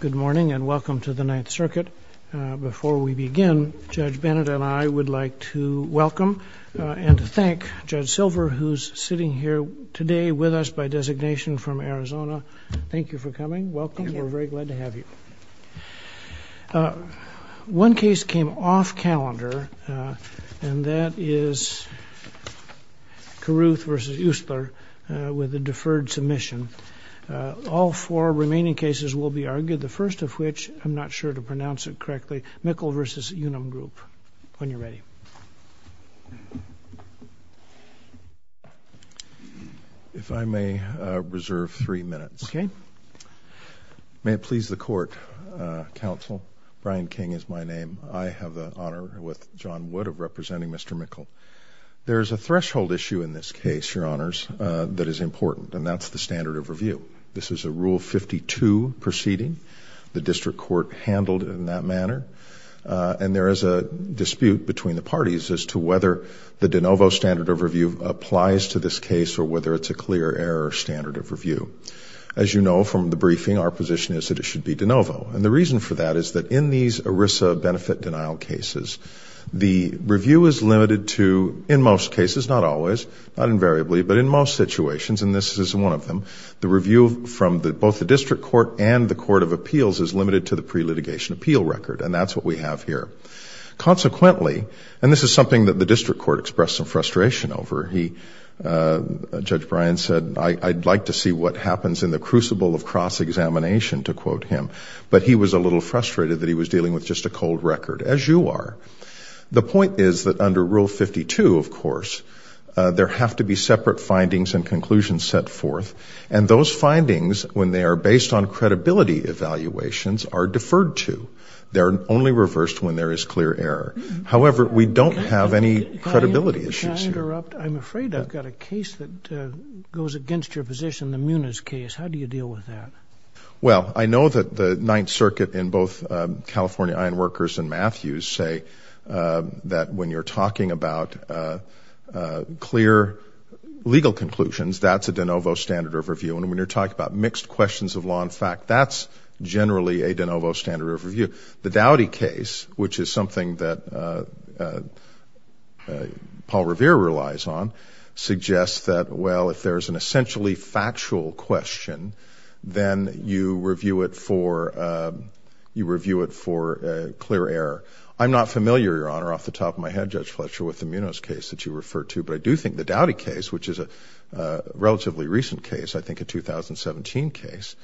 Good morning and welcome to the Ninth Circuit. Before we begin, Judge Bennett and I would like to welcome and thank Judge Silver who's sitting here today with us by designation from Arizona. Thank you for coming. Welcome. We're very glad to have you. One case came off calendar and that is Carruth v. Ustler with a deferred submission. All four remaining cases will be argued, the first of which, I'm not sure to pronounce it correctly, Mickel v. Unum Group. When you're ready. If I may reserve three minutes. Okay. May it please the court. Counsel, Brian King is my name. I have the honor with John Wood of representing Mr. Mickel. There's a threshold issue in this case, Your Honor, that is important and that's the standard of review. This is a Rule 52 proceeding. The district court handled it in that manner and there is a dispute between the parties as to whether the de novo standard of review applies to this case or whether it's a clear error standard of review. As you know from the briefing, our position is that it should be de novo and the reason for that is that in these ERISA benefit denial cases, the review is limited to, in most cases, not always, not invariably, but in most situations, and this is one of them, the review from both the district court and the Court of Appeals is limited to the pre-litigation appeal record and that's what we have here. Consequently, and this is something that the district court expressed some frustration over, he, Judge Brian said, I'd like to see what happens in the crucible of cross-examination, to quote him, but he was a little frustrated that he was dealing with just a cold of course. There have to be separate findings and conclusions set forth and those findings, when they are based on credibility evaluations, are deferred to. They're only reversed when there is clear error. However, we don't have any credibility issues. I'm afraid I've got a case that goes against your position, the Muniz case. How do you deal with that? Well, I know that the Ninth Circuit in both California Ironworkers and Matthews say that when you're talking about clear legal conclusions, that's a de novo standard of review, and when you're talking about mixed questions of law and fact, that's generally a de novo standard of review. The Doughty case, which is something that Paul Revere relies on, suggests that, well, if there's an essentially factual question, then you review it for clear error. I'm not familiar, Your Honor, off the top of my head, Judge Fletcher, with the Muniz case that you refer to, but I do think the Doughty case, which is a relatively recent case, I think a 2017 case,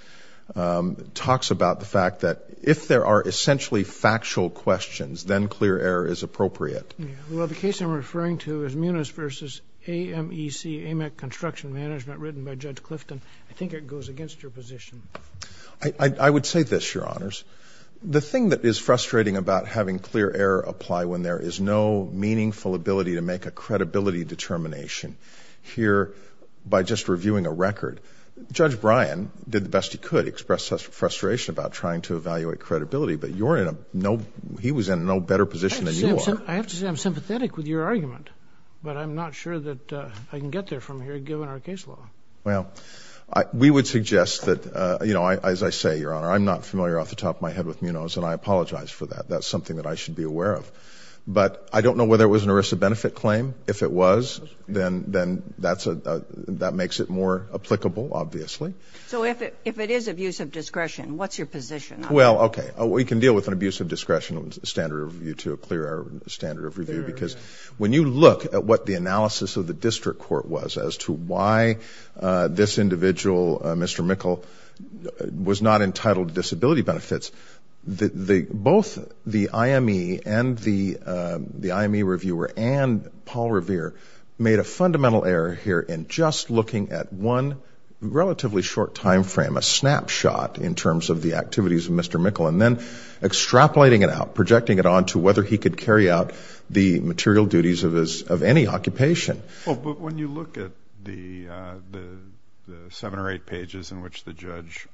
talks about the fact that if there are essentially factual questions, then clear error is appropriate. Well, the case I'm referring to is Muniz versus AMEC, AMEC Construction Management, written by Judge Clifton. I think it goes against your position. I would say this, Your Honors, the thing that is frustrating about having clear error apply when there is no meaningful ability to make a credibility determination, here, by just reviewing a record, Judge Bryan did the best he could express frustration about trying to evaluate credibility, but you're in a no, he was in no better position than you are. I have to say I'm sympathetic with your argument, but I'm not sure that I can get there from here given our case Well, we would suggest that, you know, as I say, Your Honor, I'm not familiar off the top of my head with Muniz, and I apologize for that. That's something that I should be aware of, but I don't know whether it was an ERISA benefit claim. If it was, then that makes it more applicable, obviously. So if it is abuse of discretion, what's your position? Well, okay, we can deal with an abuse of discretion standard review to a clear standard of review, because when you look at what the analysis of the district court was as to why this individual, Mr. Mikkel, was not entitled to disability benefits, both the IME and the IME reviewer and Paul Revere made a fundamental error here in just looking at one relatively short time frame, a snapshot in terms of the activities of Mr. Mikkel, and then extrapolating it out, projecting it on to whether he could carry out the material duties of any occupation. Well, but when you look at the seven or eight pages in which the judge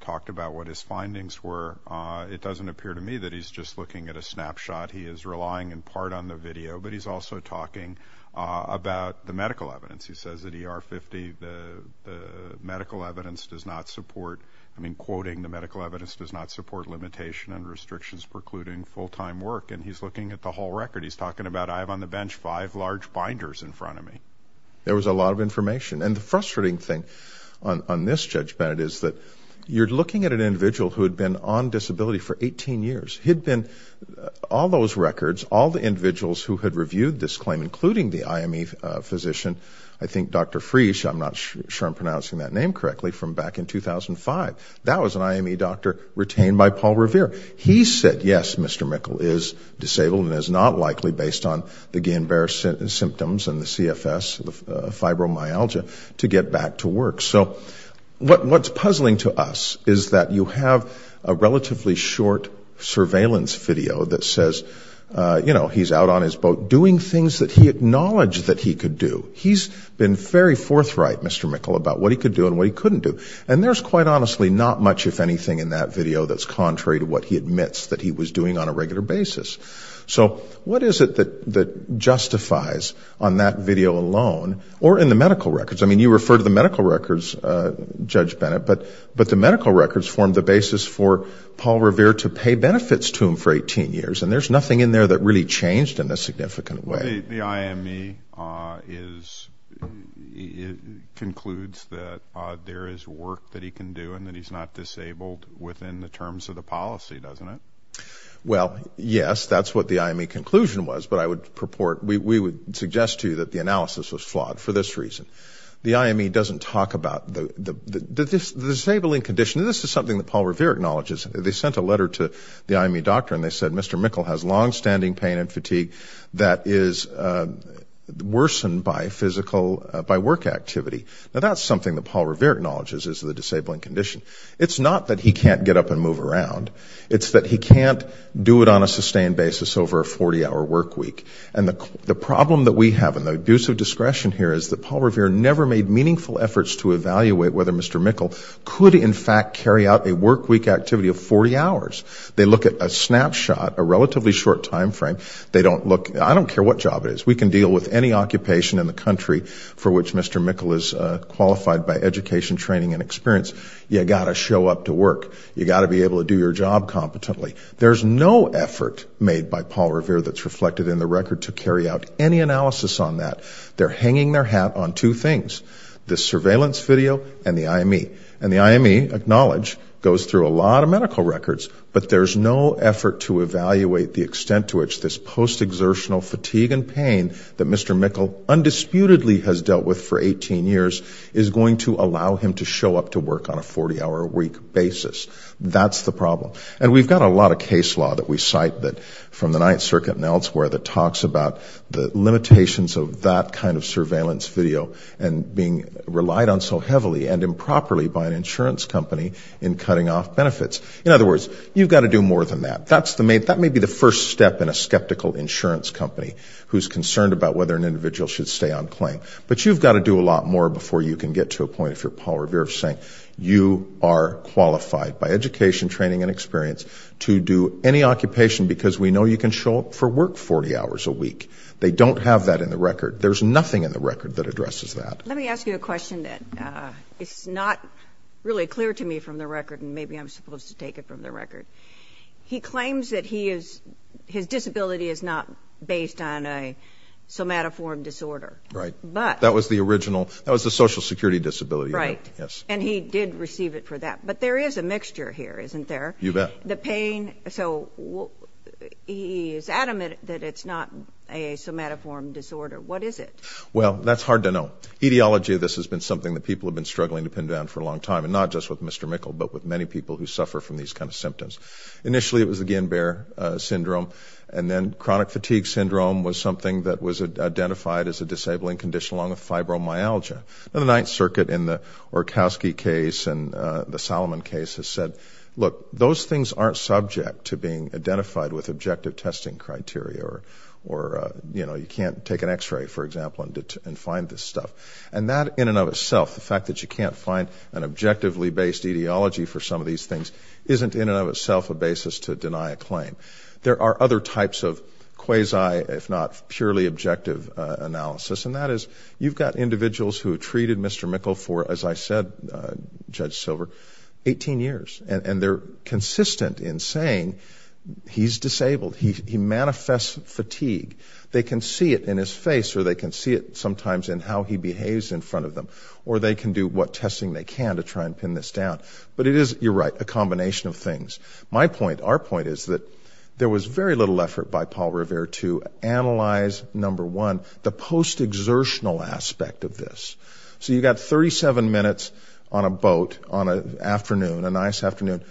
talked about what his findings were, it doesn't appear to me that he's just looking at a snapshot. He is relying in part on the video, but he's also talking about the medical evidence. He says that ER 50, the medical evidence does not support, I mean, quoting, the medical evidence does not support limitation and restrictions precluding full-time work, and he's looking at the whole record. He's talking about, I have on the bench five large binders in front of me. There was a lot of information, and the frustrating thing on this judgment is that you're looking at an individual who had been on disability for 18 years. He'd been, all those records, all the individuals who had reviewed this claim, including the IME physician, I think Dr. Freesh, I'm not sure I'm pronouncing that name correctly, from back in 2005, that was an IME doctor retained by Paul Revere. He said, yes, Mr. Mikkel is disabled and is not likely, based on the Gain-Bearer symptoms and the CFS, the fibromyalgia, to get back to work. So what's puzzling to us is that you have a relatively short surveillance video that says, you know, he's out on his boat doing things that he acknowledged that he could do. He's been very forthright, Mr. Mikkel, about what he could do and what he couldn't do, and there's quite honestly not much, if anything, in that video that's contrary to what he admits that he was doing on a regular basis. So what is it that justifies, on that video alone, or in the medical records? I mean, you refer to the medical records, Judge Bennett, but the medical records form the basis for Paul Revere to pay benefits to him for 18 years, and there's nothing in there that really changed in a significant way. The IME concludes that there is work that he can do and that he's not disabled within the terms of the policy, doesn't it? Well, yes, that's what the IME conclusion was, but I would purport, we would suggest to you that the analysis was flawed for this reason. The IME doesn't talk about the disabling condition. This is something that Paul Revere acknowledges. They sent a letter to the IME doctor and they said, Mr. Mikkel has long-standing pain and fatigue that is worsened by physical, by work activity. Now that's something that is a disabling condition. It's not that he can't get up and move around. It's that he can't do it on a sustained basis over a 40-hour workweek. And the problem that we have, and the abuse of discretion here, is that Paul Revere never made meaningful efforts to evaluate whether Mr. Mikkel could in fact carry out a workweek activity of 40 hours. They look at a snapshot, a relatively short time frame, they don't look, I don't care what job it is, we can deal with any occupation in the country for which Mr. Mikkel is qualified by education, training, and experience. You got to show up to work. You got to be able to do your job competently. There's no effort made by Paul Revere that's reflected in the record to carry out any analysis on that. They're hanging their hat on two things. The surveillance video and the IME. And the IME, acknowledge, goes through a lot of medical records, but there's no effort to evaluate the extent to which this post-exertional fatigue and pain that Mr. Mikkel undisputedly has dealt with for 18 years is going to allow him to show up to work on a 40-hour a week basis. That's the problem. And we've got a lot of case law that we cite that, from the Ninth Circuit and elsewhere, that talks about the limitations of that kind of surveillance video and being relied on so heavily and improperly by an insurance company in cutting off benefits. In other words, you've got to do more than that. That's the main, that may be the first step in a skeptical insurance company who's concerned about whether an individual should stay on claim. But you've got to do a lot more before you can get to a point, if you're Paul Revere, of saying you are qualified by education, training, and experience to do any occupation because we know you can show up for work 40 hours a week. They don't have that in the record. There's nothing in the record that addresses that. Let me ask you a question that it's not really clear to me from the record, and maybe I'm supposed to take it from the record. He claims that he is, his disability is not based on a somatoform disorder. Right. But. That was the original, that was the Social Security disability. Right. Yes. And he did receive it for that. But there is a mixture here, isn't there? You bet. The pain, so he is adamant that it's not a somatoform disorder. What is it? Well, that's hard to know. Etiology of this has been something that people have been struggling to pin down for a long time, and not just with symptoms. Initially, it was the Ginbear syndrome, and then chronic fatigue syndrome was something that was identified as a disabling condition along with fibromyalgia. The Ninth Circuit in the Orkowski case and the Solomon case has said, look, those things aren't subject to being identified with objective testing criteria, or, you know, you can't take an x-ray, for example, and find this stuff. And that in and of itself, the fact that you can't find an in and of itself a basis to deny a claim. There are other types of quasi, if not purely objective analysis, and that is, you've got individuals who have treated Mr. Mikkel for, as I said, Judge Silver, 18 years. And they're consistent in saying he's disabled. He manifests fatigue. They can see it in his face, or they can see it sometimes in how he behaves in front of them, or they can do what testing they can to try and pin this down. But it is, you're right, a My point, our point, is that there was very little effort by Paul Revere to analyze, number one, the post-exertional aspect of this. So you got 37 minutes on a boat on a afternoon, a nice afternoon.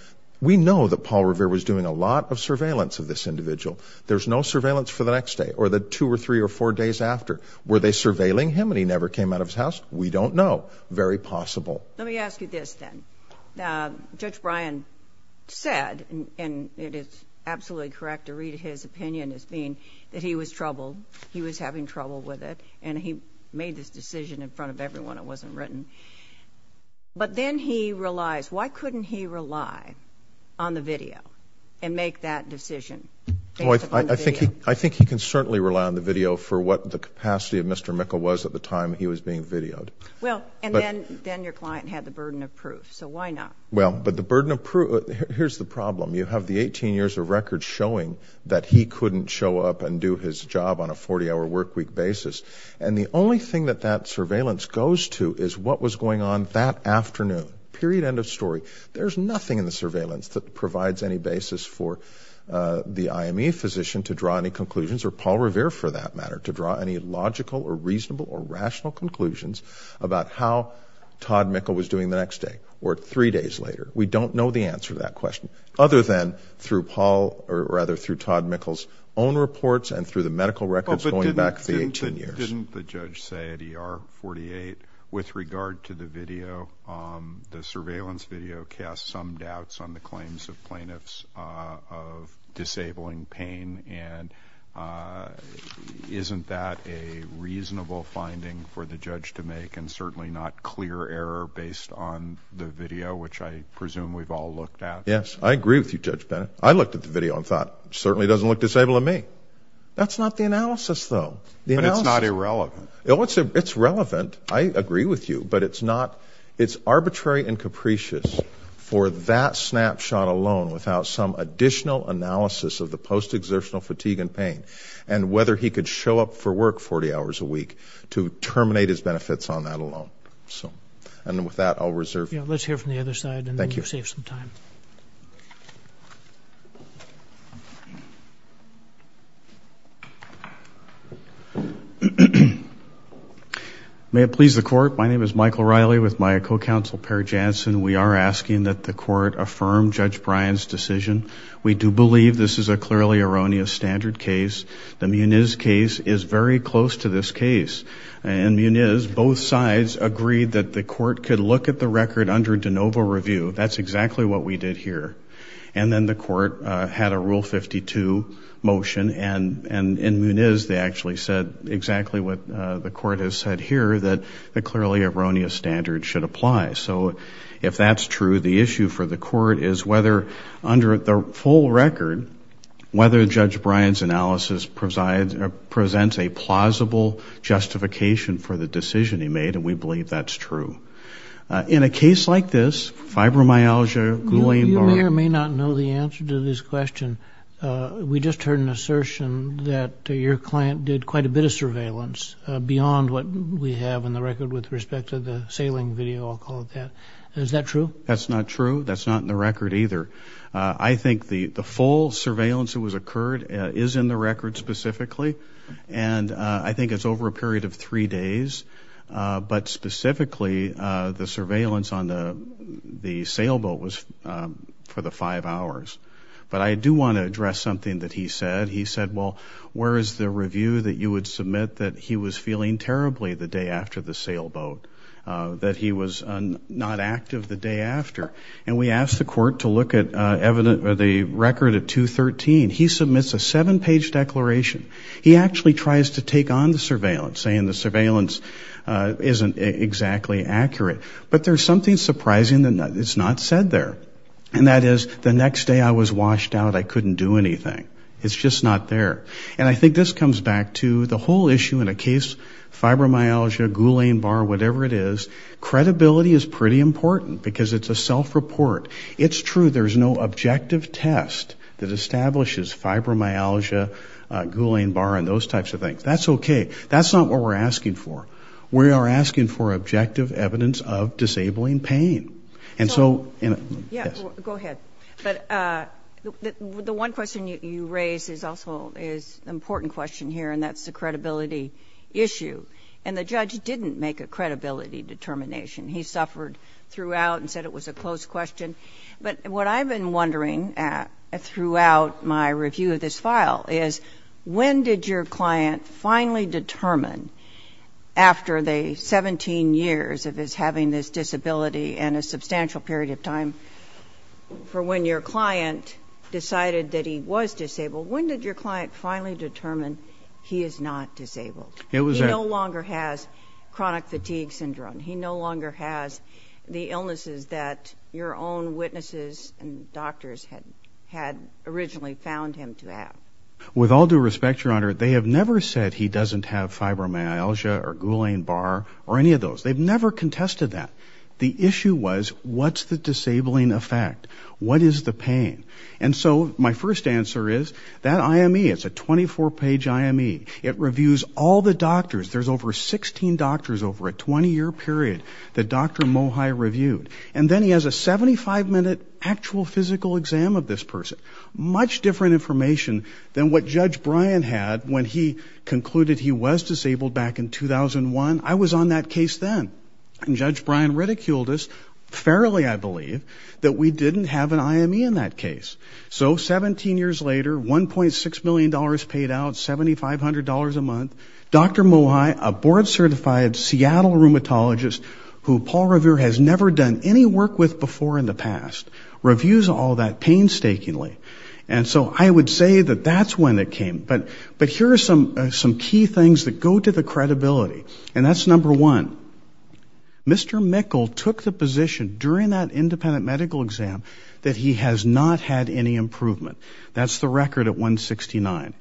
We know that Paul Revere was doing a lot of surveillance of this individual. There's no surveillance for the next day or the two or three or four days after. Were they surveilling him and he never came out of his house? We don't know. Very possible. Let me ask you this, then. Judge Bryan said, and it is absolutely correct to read his opinion as being that he was troubled, he was having trouble with it, and he made this decision in front of everyone. It wasn't written. But then he realized, why couldn't he rely on the video and make that decision? I think he can certainly rely on the video for what the capacity of Mr. Mikkel was at the time he was being videoed. Well, and then your client had the burden of proof, so why not? Well, but the burden of proof, here's the problem. You have the 18 years of records showing that he couldn't show up and do his job on a 40-hour workweek basis. And the only thing that that surveillance goes to is what was going on that afternoon, period, end of story. There's nothing in the surveillance that provides any basis for the IME physician to draw any conclusions, or Paul Revere, for that matter, to draw any logical or reasonable or rational conclusions about how Todd Mikkel was doing the next day, or three days later. We don't know the answer to that question, other than through Paul, or rather through Todd Mikkel's own reports and through the medical records going back the 18 years. Didn't the judge say at ER 48, with regard to the video, the surveillance video casts some doubts on the claims of plaintiffs of disabling pain, and isn't that a reasonable finding for the judge to make, and certainly not clear error based on the video, which I presume we've all looked at? Yes, I agree with you, Judge Bennett. I looked at the video and thought, it certainly doesn't look disabling to me. That's not the analysis, though. But it's not irrelevant. It's relevant, I agree with you, but it's not, it's arbitrary and capricious for that snapshot alone, without some additional analysis of the post-exertional fatigue and pain, and whether he could show up for work 40 hours a week, to terminate his benefits on that alone. So, and with that, I'll reserve. Yeah, let's hear from the other side, and then you'll save some time. May it please the court, my name is Michael Riley with my co-counsel, Perry Jansen. We are asking that the court affirm Judge Bryan's decision. We do believe this is a clearly erroneous standard case. The Muniz case is very close to this case. In Muniz, both sides agreed that the court could look at the record under de novo review. That's exactly what we did here. And then the court had a Rule 52 motion, and in Muniz, they actually said exactly what the court has said here, that the clearly erroneous standard should apply. So, if that's true, the issue for the court is whether, under the full record, whether Judge Bryan's analysis presents a plausible justification for the decision he made, and we believe that's true. In a case like this, fibromyalgia, gluing... You may or may not know the answer to this question. We just heard an assertion that your client did quite a bit of surveillance beyond what we have in the record with respect to the sailing video, I'll call it that. Is that true? That's not true. That's not in the record either. I think the full surveillance that was occurred is in the record specifically, and I think it's over a period of three days. But specifically, the surveillance on the He said, well, where is the review that you would submit that he was feeling terribly the day after the sailboat, that he was not active the day after? And we asked the court to look at the record at 2-13. He submits a seven-page declaration. He actually tries to take on the surveillance, saying the surveillance isn't exactly accurate. But there's something surprising that is not said there, and that is, the next day I was washed out, I couldn't do anything. It's just not there. And I think this comes back to the whole issue in a case, fibromyalgia, Ghoulain-Barr, whatever it is, credibility is pretty important because it's a self-report. It's true, there's no objective test that establishes fibromyalgia, Ghoulain-Barr, and those types of things. That's okay. That's not what we're asking for. We are asking for objective evidence of disabling pain. And so, and... Go ahead. But the one question you raised is also an important question here, and that's the credibility issue. And the judge didn't make a credibility determination. He suffered throughout and said it was a closed question. But what I've been wondering throughout my review of this file is, when did your client finally determine, after the 17 years of his having this disability and a substantial period of time, for when your client decided that he was disabled, when did your client finally determine he is not disabled? He no longer has chronic fatigue syndrome. He no longer has the illnesses that your own witnesses and doctors had originally found him to have. With all due respect, Your Honor, they have never said he doesn't have fibromyalgia or Ghoulain- was, what's the disabling effect? What is the pain? And so, my first answer is, that IME, it's a 24-page IME. It reviews all the doctors. There's over 16 doctors over a 20-year period that Dr. Mohi reviewed. And then he has a 75-minute actual physical exam of this person. Much different information than what Judge Bryan had when he concluded he was disabled back in 2001. I was on that case then. And Judge Bryan ridiculed us fairly, I believe, that we didn't have an IME in that case. So, 17 years later, $1.6 million paid out, $7,500 a month, Dr. Mohi, a board-certified Seattle rheumatologist who Paul Revere has never done any work with before in the past, reviews all that painstakingly. And so, I would say that that's when it came. But here are some key things that go to the Mr. Mikkel took the position during that independent medical exam that he has not had any improvement. That's the record at 169.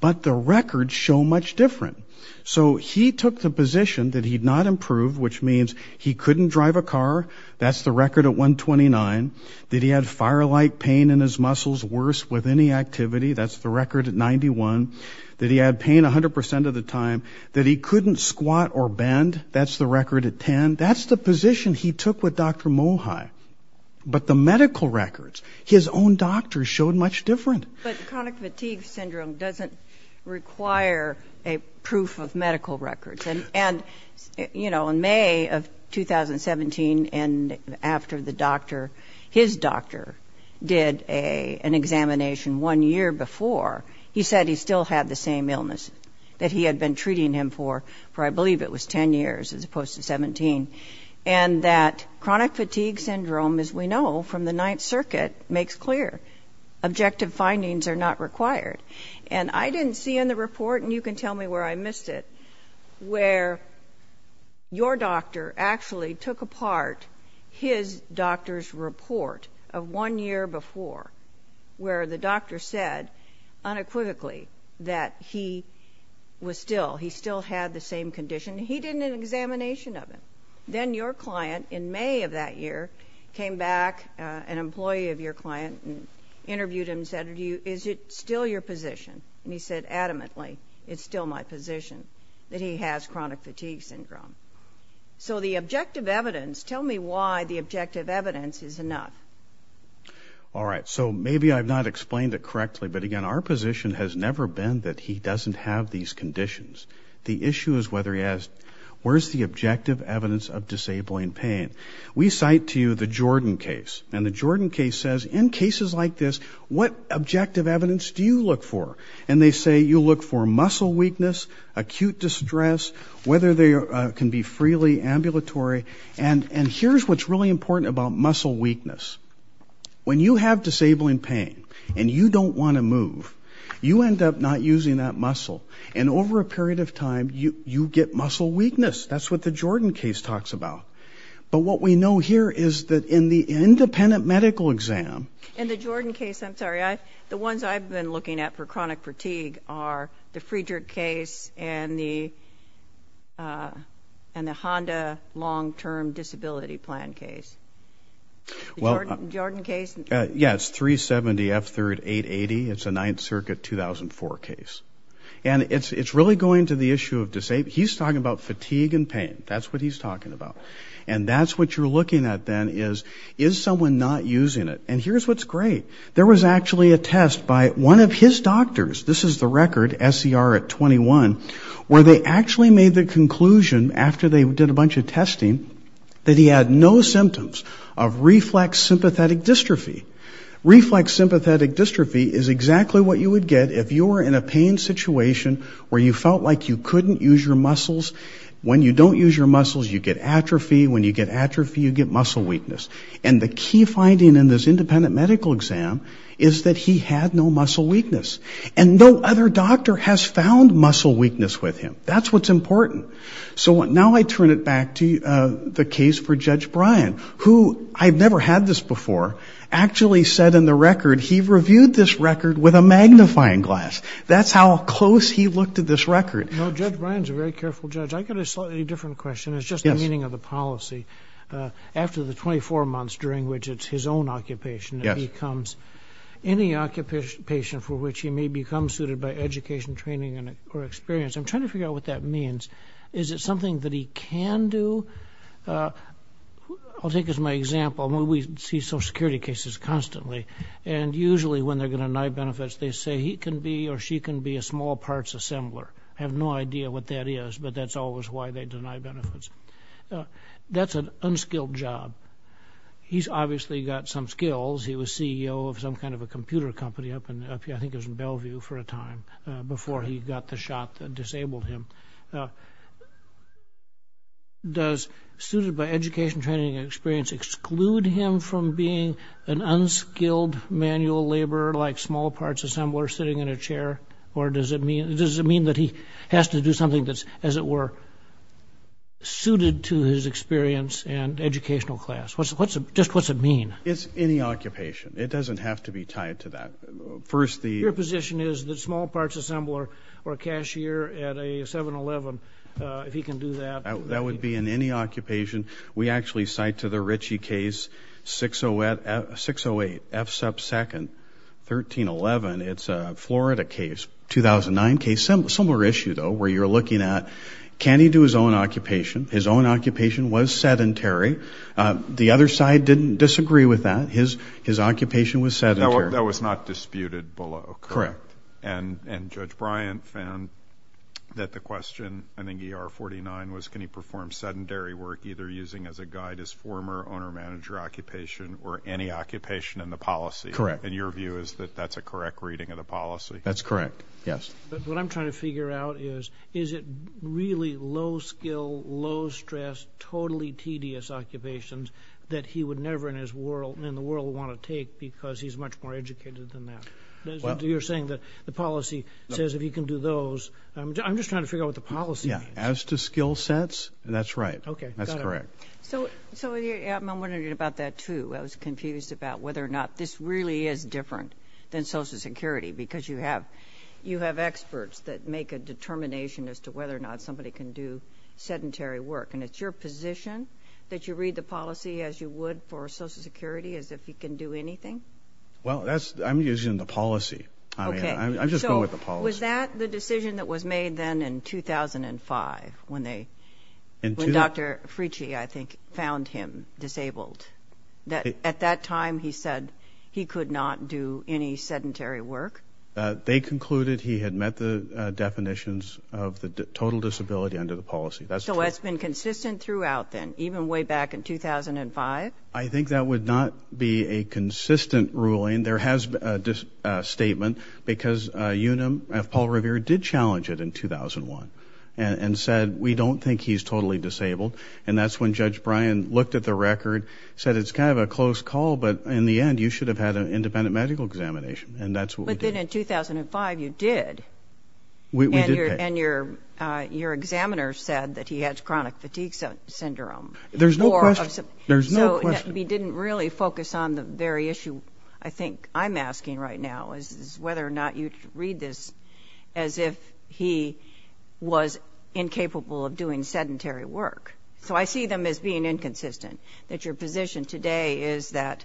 But the records show much different. So, he took the position that he'd not improved, which means he couldn't drive a car. That's the record at 129. That he had fire-like pain in his muscles, worse with any activity. That's the record at 91. That he had pain 100% of the time. That he couldn't squat or bend. That's the record at 10. That's the position he took with Dr. Mohi. But the medical records, his own doctors showed much different. But chronic fatigue syndrome doesn't require a proof of medical records. And, and, you know, in May of 2017, and after the doctor, his doctor did a, an examination one year before, he said he still had the same illness that he had been treating him for, for I believe it was 10 years as opposed to 17. And that chronic fatigue syndrome, as we know from the Ninth Circuit, makes clear. Objective findings are not required. And I didn't see in the report, and you can tell me where I missed it, where your doctor actually took apart his doctor's report of one year before, where the doctor said, unequivocally, that he was still, he still had the same condition. He did an examination of him. Then your client, in May of that year, came back, an employee of your client, and interviewed him, said, is it still your position? And he said, adamantly, it's still my position that he has chronic fatigue syndrome. So the objective evidence is enough. All right. So maybe I've not explained it correctly, but again, our position has never been that he doesn't have these conditions. The issue is whether he has, where's the objective evidence of disabling pain? We cite to you the Jordan case, and the Jordan case says, in cases like this, what objective evidence do you look for? And they say, you look for muscle weakness, acute distress, whether they can be freely ambulatory. And, and here's what's really important about muscle weakness. When you have disabling pain, and you don't want to move, you end up not using that muscle. And over a period of time, you you get muscle weakness. That's what the Jordan case talks about. But what we know here is that in the independent medical exam, in the Jordan case, I'm sorry, I, the ones I've been looking at for chronic and the Honda long term disability plan case. Well, Jordan case. Yeah, it's 370 F 3880. It's a Ninth Circuit 2004 case. And it's it's really going to the issue of disabled. He's talking about fatigue and pain. That's what he's talking about. And that's what you're looking at then is, is someone not using it? And here's what's great. There was actually a test by one of his doctors, this is the record SCR at 21, where they actually made the conclusion after they did a bunch of testing, that he had no symptoms of reflex sympathetic dystrophy. reflex sympathetic dystrophy is exactly what you would get if you were in a pain situation where you felt like you couldn't use your muscles. When you don't use your muscles, you get atrophy. When you get atrophy, you get muscle weakness. And the key finding in this independent medical exam is that he had no muscle weakness. And no other doctor has found muscle weakness with him. That's what's important. So now I turn it back to the case for Judge Brian, who I've never had this before, actually said in the record, he reviewed this record with a magnifying glass. That's how close he looked at this record. No, Judge Brian's a very careful judge. I got a slightly different question. It's just the meaning of the policy. After the 24 months during which it's his own occupation, it becomes any occupation for which he may become suited by education, training, or experience. I'm trying to figure out what that means. Is it something that he can do? I'll take as my example, when we see social security cases constantly, and usually when they're going to deny benefits, they say he can be or she can be a small parts assembler. I have no idea what that is. But that's always why they deny benefits. That's an unskilled job. He's obviously got some skills. He was CEO of some kind of a computer company up in, I think it was in Bellevue for a time, before he got the shot that disabled him. Does suited by education, training, and experience exclude him from being an unskilled manual laborer, like small parts assembler sitting in a chair? Or does it mean, does it mean that he has to do something that's, as it were, suited to his experience and educational class? What's, what's, just what's it mean? It's any occupation. It doesn't have to be tied to that. First, the... Your position is that small parts assembler or cashier at a 7-Eleven, if he can do that... That would be in any occupation. We actually cite to the Ritchie case, 608 F sub 2nd, 1311. It's a Florida case, 2009 case. Similar issue, though, where you're looking at, can he do his own occupation? His own occupation was sedentary. The other side didn't disagree with that. His, his occupation was sedentary. That was not disputed below, correct? Correct. And, and Judge Bryant found that the question, I think ER 49, was can he perform sedentary work, either using as a guide his former owner-manager occupation, or any occupation in the policy? Correct. And your view is that that's a correct reading of the policy? That's correct, yes. But what I'm trying to figure out is, is it really low skill, low stress, totally tedious occupations that he would never in his world, in the world, want to take because he's much more educated than that? You're saying that the policy says if he can do those... I'm just trying to figure out what the policy is. Yeah, as to skill sets, that's right. Okay. That's correct. So, so I'm wondering about that too. I was confused about whether or not this really is different than Social Security, because you have, you have experts that make a determination as to whether or not somebody can do sedentary work. And it's your position that you read the policy as you would for Social Security, as if you can do anything? Well, that's, I'm using the policy. Okay. I'm just going with the policy. So, was that the decision that was made then in 2005, when they, when Dr. Fricci, I think, found him disabled? That, at that time, he said he could not do any sedentary work? They concluded he had met the definitions of the total disability under the policy. That's true. So, it's been consistent throughout then, even way back in 2005? I think that would not be a consistent ruling. There has been a statement, because UNAM, Paul Revere, did challenge it in 2001, and said, we don't think he's totally disabled. And that's when Judge Bryan looked at the record, said, it's kind of a close call, but in the end, you should have had an independent medical examination. And that's what we did. But then in 2005, you did. We did. And your, your examiner said that he has chronic fatigue syndrome. There's no question. There's no question. So, he didn't really focus on the very issue, I think, I'm asking right now, is whether or not you read this as if he was incapable of doing sedentary work. So, I see them as being inconsistent. That your position today is that,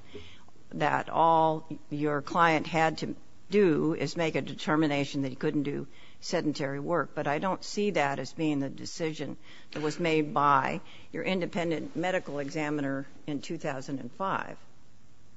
that all your client had to do is make a determination that he couldn't do sedentary work. But I don't see that as being the decision that was made by your independent medical examiner in 2005.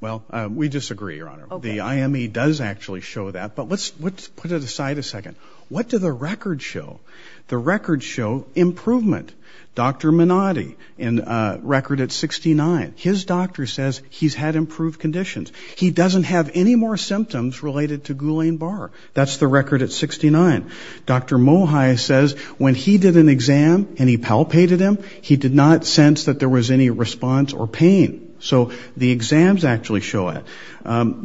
Well, we disagree, Your Honor. The IME does actually show that. But let's, let's put it aside a second. What do the records show? The records show improvement. Dr. Minotti, in a record at 69, his doctor says he's had improved conditions. He doesn't have any more symptoms related to Ghoulain-Barr. That's the record at 69. Dr. Mohi says when he did an exam and he palpated him, he did not sense that there was any response or pain. So the exams actually show it.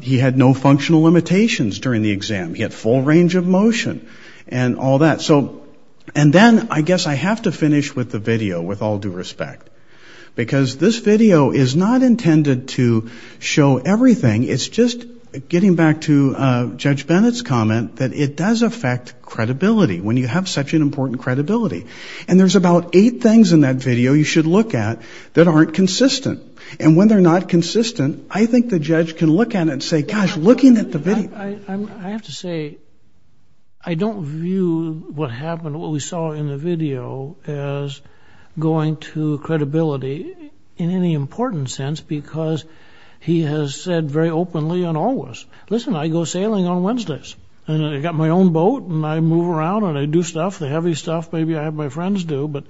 He had no functional limitations during the exam. He had full range of motion and all that. So, and then I guess I have to finish with the video, with all due respect. Because this video is not intended to show everything. It's just, getting back to Judge Bennett's comment, that it does affect credibility, when you have such an important credibility. And there's about eight things in that video you should look at that aren't consistent. And when they're not consistent, I think the judge can look at it and say, gosh, looking at the video. I have to say, I don't view what happened, what we saw in the video, as going to credibility in any important sense. Because he has said very openly and always, listen, I go sailing on Wednesdays. And I got my own boat and I move around and I do stuff, the heavy stuff. Maybe I have my friends do, but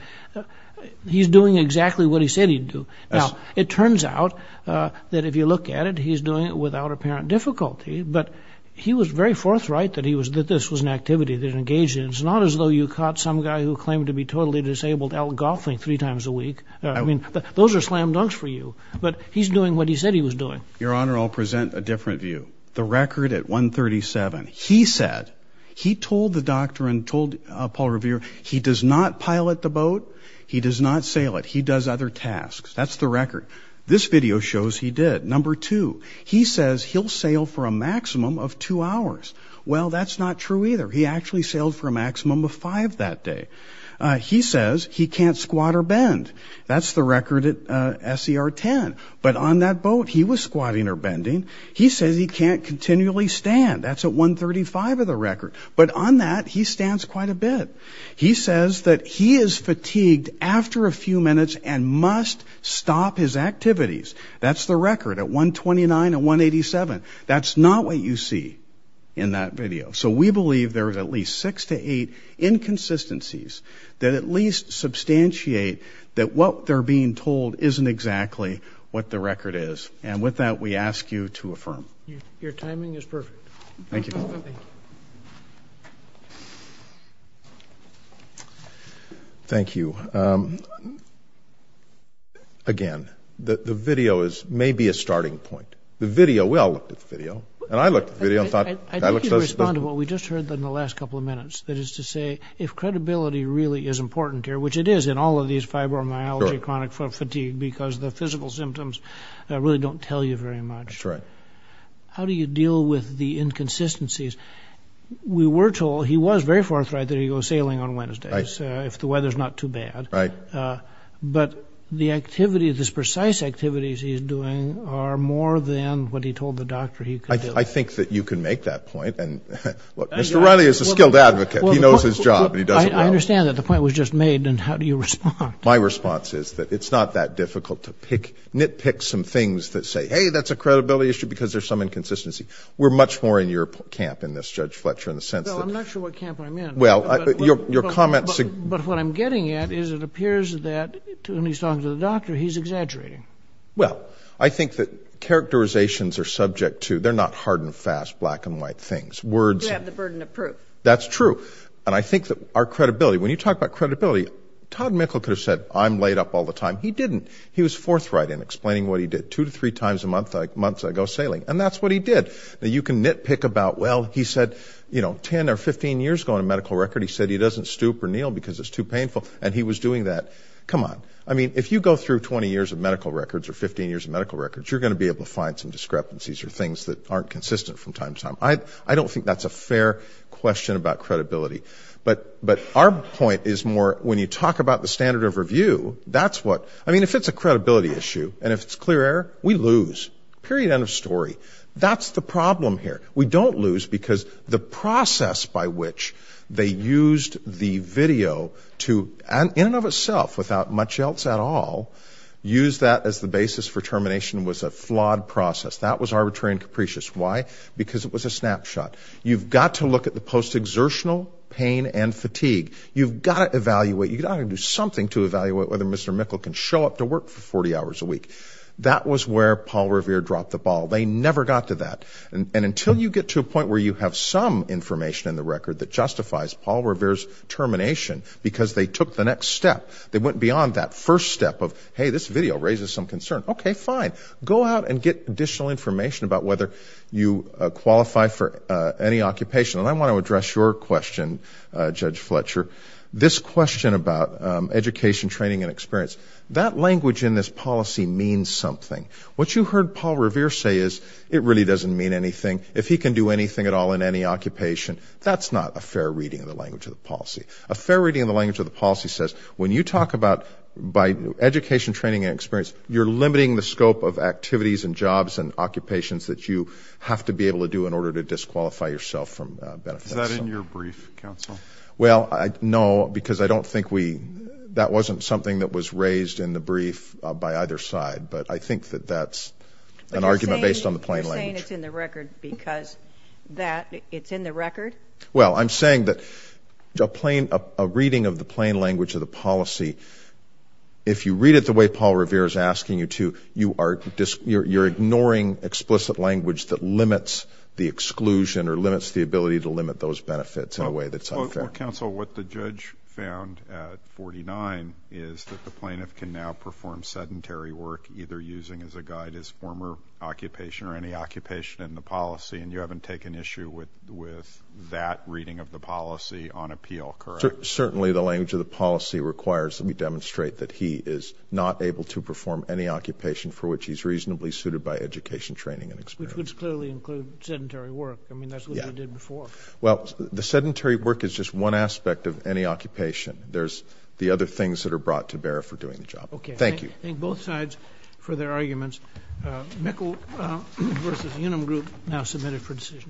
he's doing exactly what he said he'd do. Now, it turns out, that if you look at it, he's doing it without apparent difficulty. But he was very forthright that he was, that this was an activity that engaged in. It's not as though you caught some guy who claimed to be totally disabled out golfing three times a week. I mean, those are slam dunks for you. But he's doing what he said he was doing. Your Honor, I'll present a different view. The record at 137. He said, he told the doctor and told Paul Revere, he does not pilot the boat. He does not sail it. He does other tasks. That's the record. This video shows he did. Number two, he says he'll sail for a maximum of two hours. Well, that's not true either. He actually sailed for a maximum of five that day. He says he can't squat or bend. That's the record at SER 10. But on that boat, he was squatting or bending. He says he can't continually stand. That's at 135 of the record. But on that, he stands quite a bit. He says that he is fatigued after a few minutes and must stop his activities. That's the record at 129 and 187. That's not what you see in that video. So we believe there is at least six to eight inconsistencies that at least substantiate that what they're being told isn't exactly what the record is. And with that, we ask you to affirm. Your timing is perfect. Thank you. Again, the video is maybe a starting point. The video, we all looked at the video. And I looked at the video and thought, that looks so suspicious. I'd like to respond to what we just heard in the last couple of minutes. That is to say, if credibility really is important here, which it is in all of these fibromyalgia, chronic fatigue, because the physical symptoms really don't tell you very much. How do you deal with the inconsistencies? We were told, he was very forthright, that he goes sailing on Wednesdays if the weather's not too bad. But the activity, the precise activities he's doing are more than what he told the doctor he could do. I think that you can make that point. And Mr. Riley is a skilled advocate. He knows his job and he does it well. I understand that the point was just made. And how do you respond? My response is that it's not that difficult to nitpick some things that say, hey, that's a credibility issue, because there's some inconsistency. We're much more in your camp in this, Judge Fletcher, in the sense that... No, I'm not sure what camp I'm in. Well, your comments... But what I'm getting at is it appears that, when he's talking to the doctor, he's exaggerating. Well, I think that characterizations are subject to, they're not hard and fast, black and white things. Words... You have the burden of proof. That's true. And I think that our credibility, when you talk about credibility, Todd Mickle could have said, I'm laid up all the time. He didn't. He was forthright in explaining what he did. Two to three times a month I go sailing. And that's what he did. Now, you can nitpick about, well, he said 10 or 15 years ago on a medical record, he said he doesn't stoop or kneel because it's too painful. And he was doing that. Come on. I mean, if you go through 20 years of medical records or 15 years of medical records, you're going to be able to find some discrepancies or things that aren't consistent from time to time. I don't think that's a fair question about credibility. But our point is more, when you talk about the standard of review, that's what... I mean, if it's a credibility issue and if it's clear error, we lose. Period. End of story. That's the problem here. We don't lose because the process by which they used the video to, in and of itself, without much else at all, use that as the basis for termination was a flawed process. That was arbitrary and capricious. Why? Because it was a snapshot. You've got to look at the post-exertional pain and fatigue. You've got to evaluate. You've got to do something to evaluate whether Mr. Mikkel can show up to work for 40 hours a week. That was where Paul Revere dropped the ball. They never got to that. And until you get to a point where you have some information in the record that justifies Paul Revere's termination because they took the next step, they went beyond that first step of, hey, this video raises some concern. Okay, fine. Go out and get additional information about whether you qualify for any occupation. And I want to address your question, Judge Fletcher, this question about education, training, and experience. That language in this policy means something. What you heard Paul Revere say is it really doesn't mean anything. If he can do anything at all in any occupation, that's not a fair reading of the language of the policy. A fair reading of the language of the policy says when you talk about by education, training, and experience, you're limiting the scope of activities and jobs and occupations that you have to be able to do in order to disqualify yourself from benefits. Is that in your brief, counsel? Well, no, because I don't think we, that wasn't something that was raised in the brief by either side. But I think that that's an argument based on the plain language. But you're saying it's in the record because that, it's in the record? Well, I'm saying that a plain, a reading of the plain language of the policy, if you read it the way Paul Revere is asking you to, you are, you're ignoring explicit language that limits the exclusion or limits the ability to limit those benefits in a way that's unfair. Well, counsel, what the judge found at 49 is that the plaintiff can now perform sedentary work, either using as a guide his former occupation or any occupation in the policy, and you haven't taken issue with that reading of the policy on appeal, correct? Certainly the language of the policy requires that we demonstrate that he is not able to perform any occupation for which he's reasonably suited by education, training, and experience. Which would clearly include sedentary work. I mean, that's what you did before. Well, the sedentary work is just one aspect of any occupation. There's the other things that are brought to bear for doing the job. Okay. Thank you. Thank both sides for their arguments. Mikkel v. Unum Group now submitted for decision.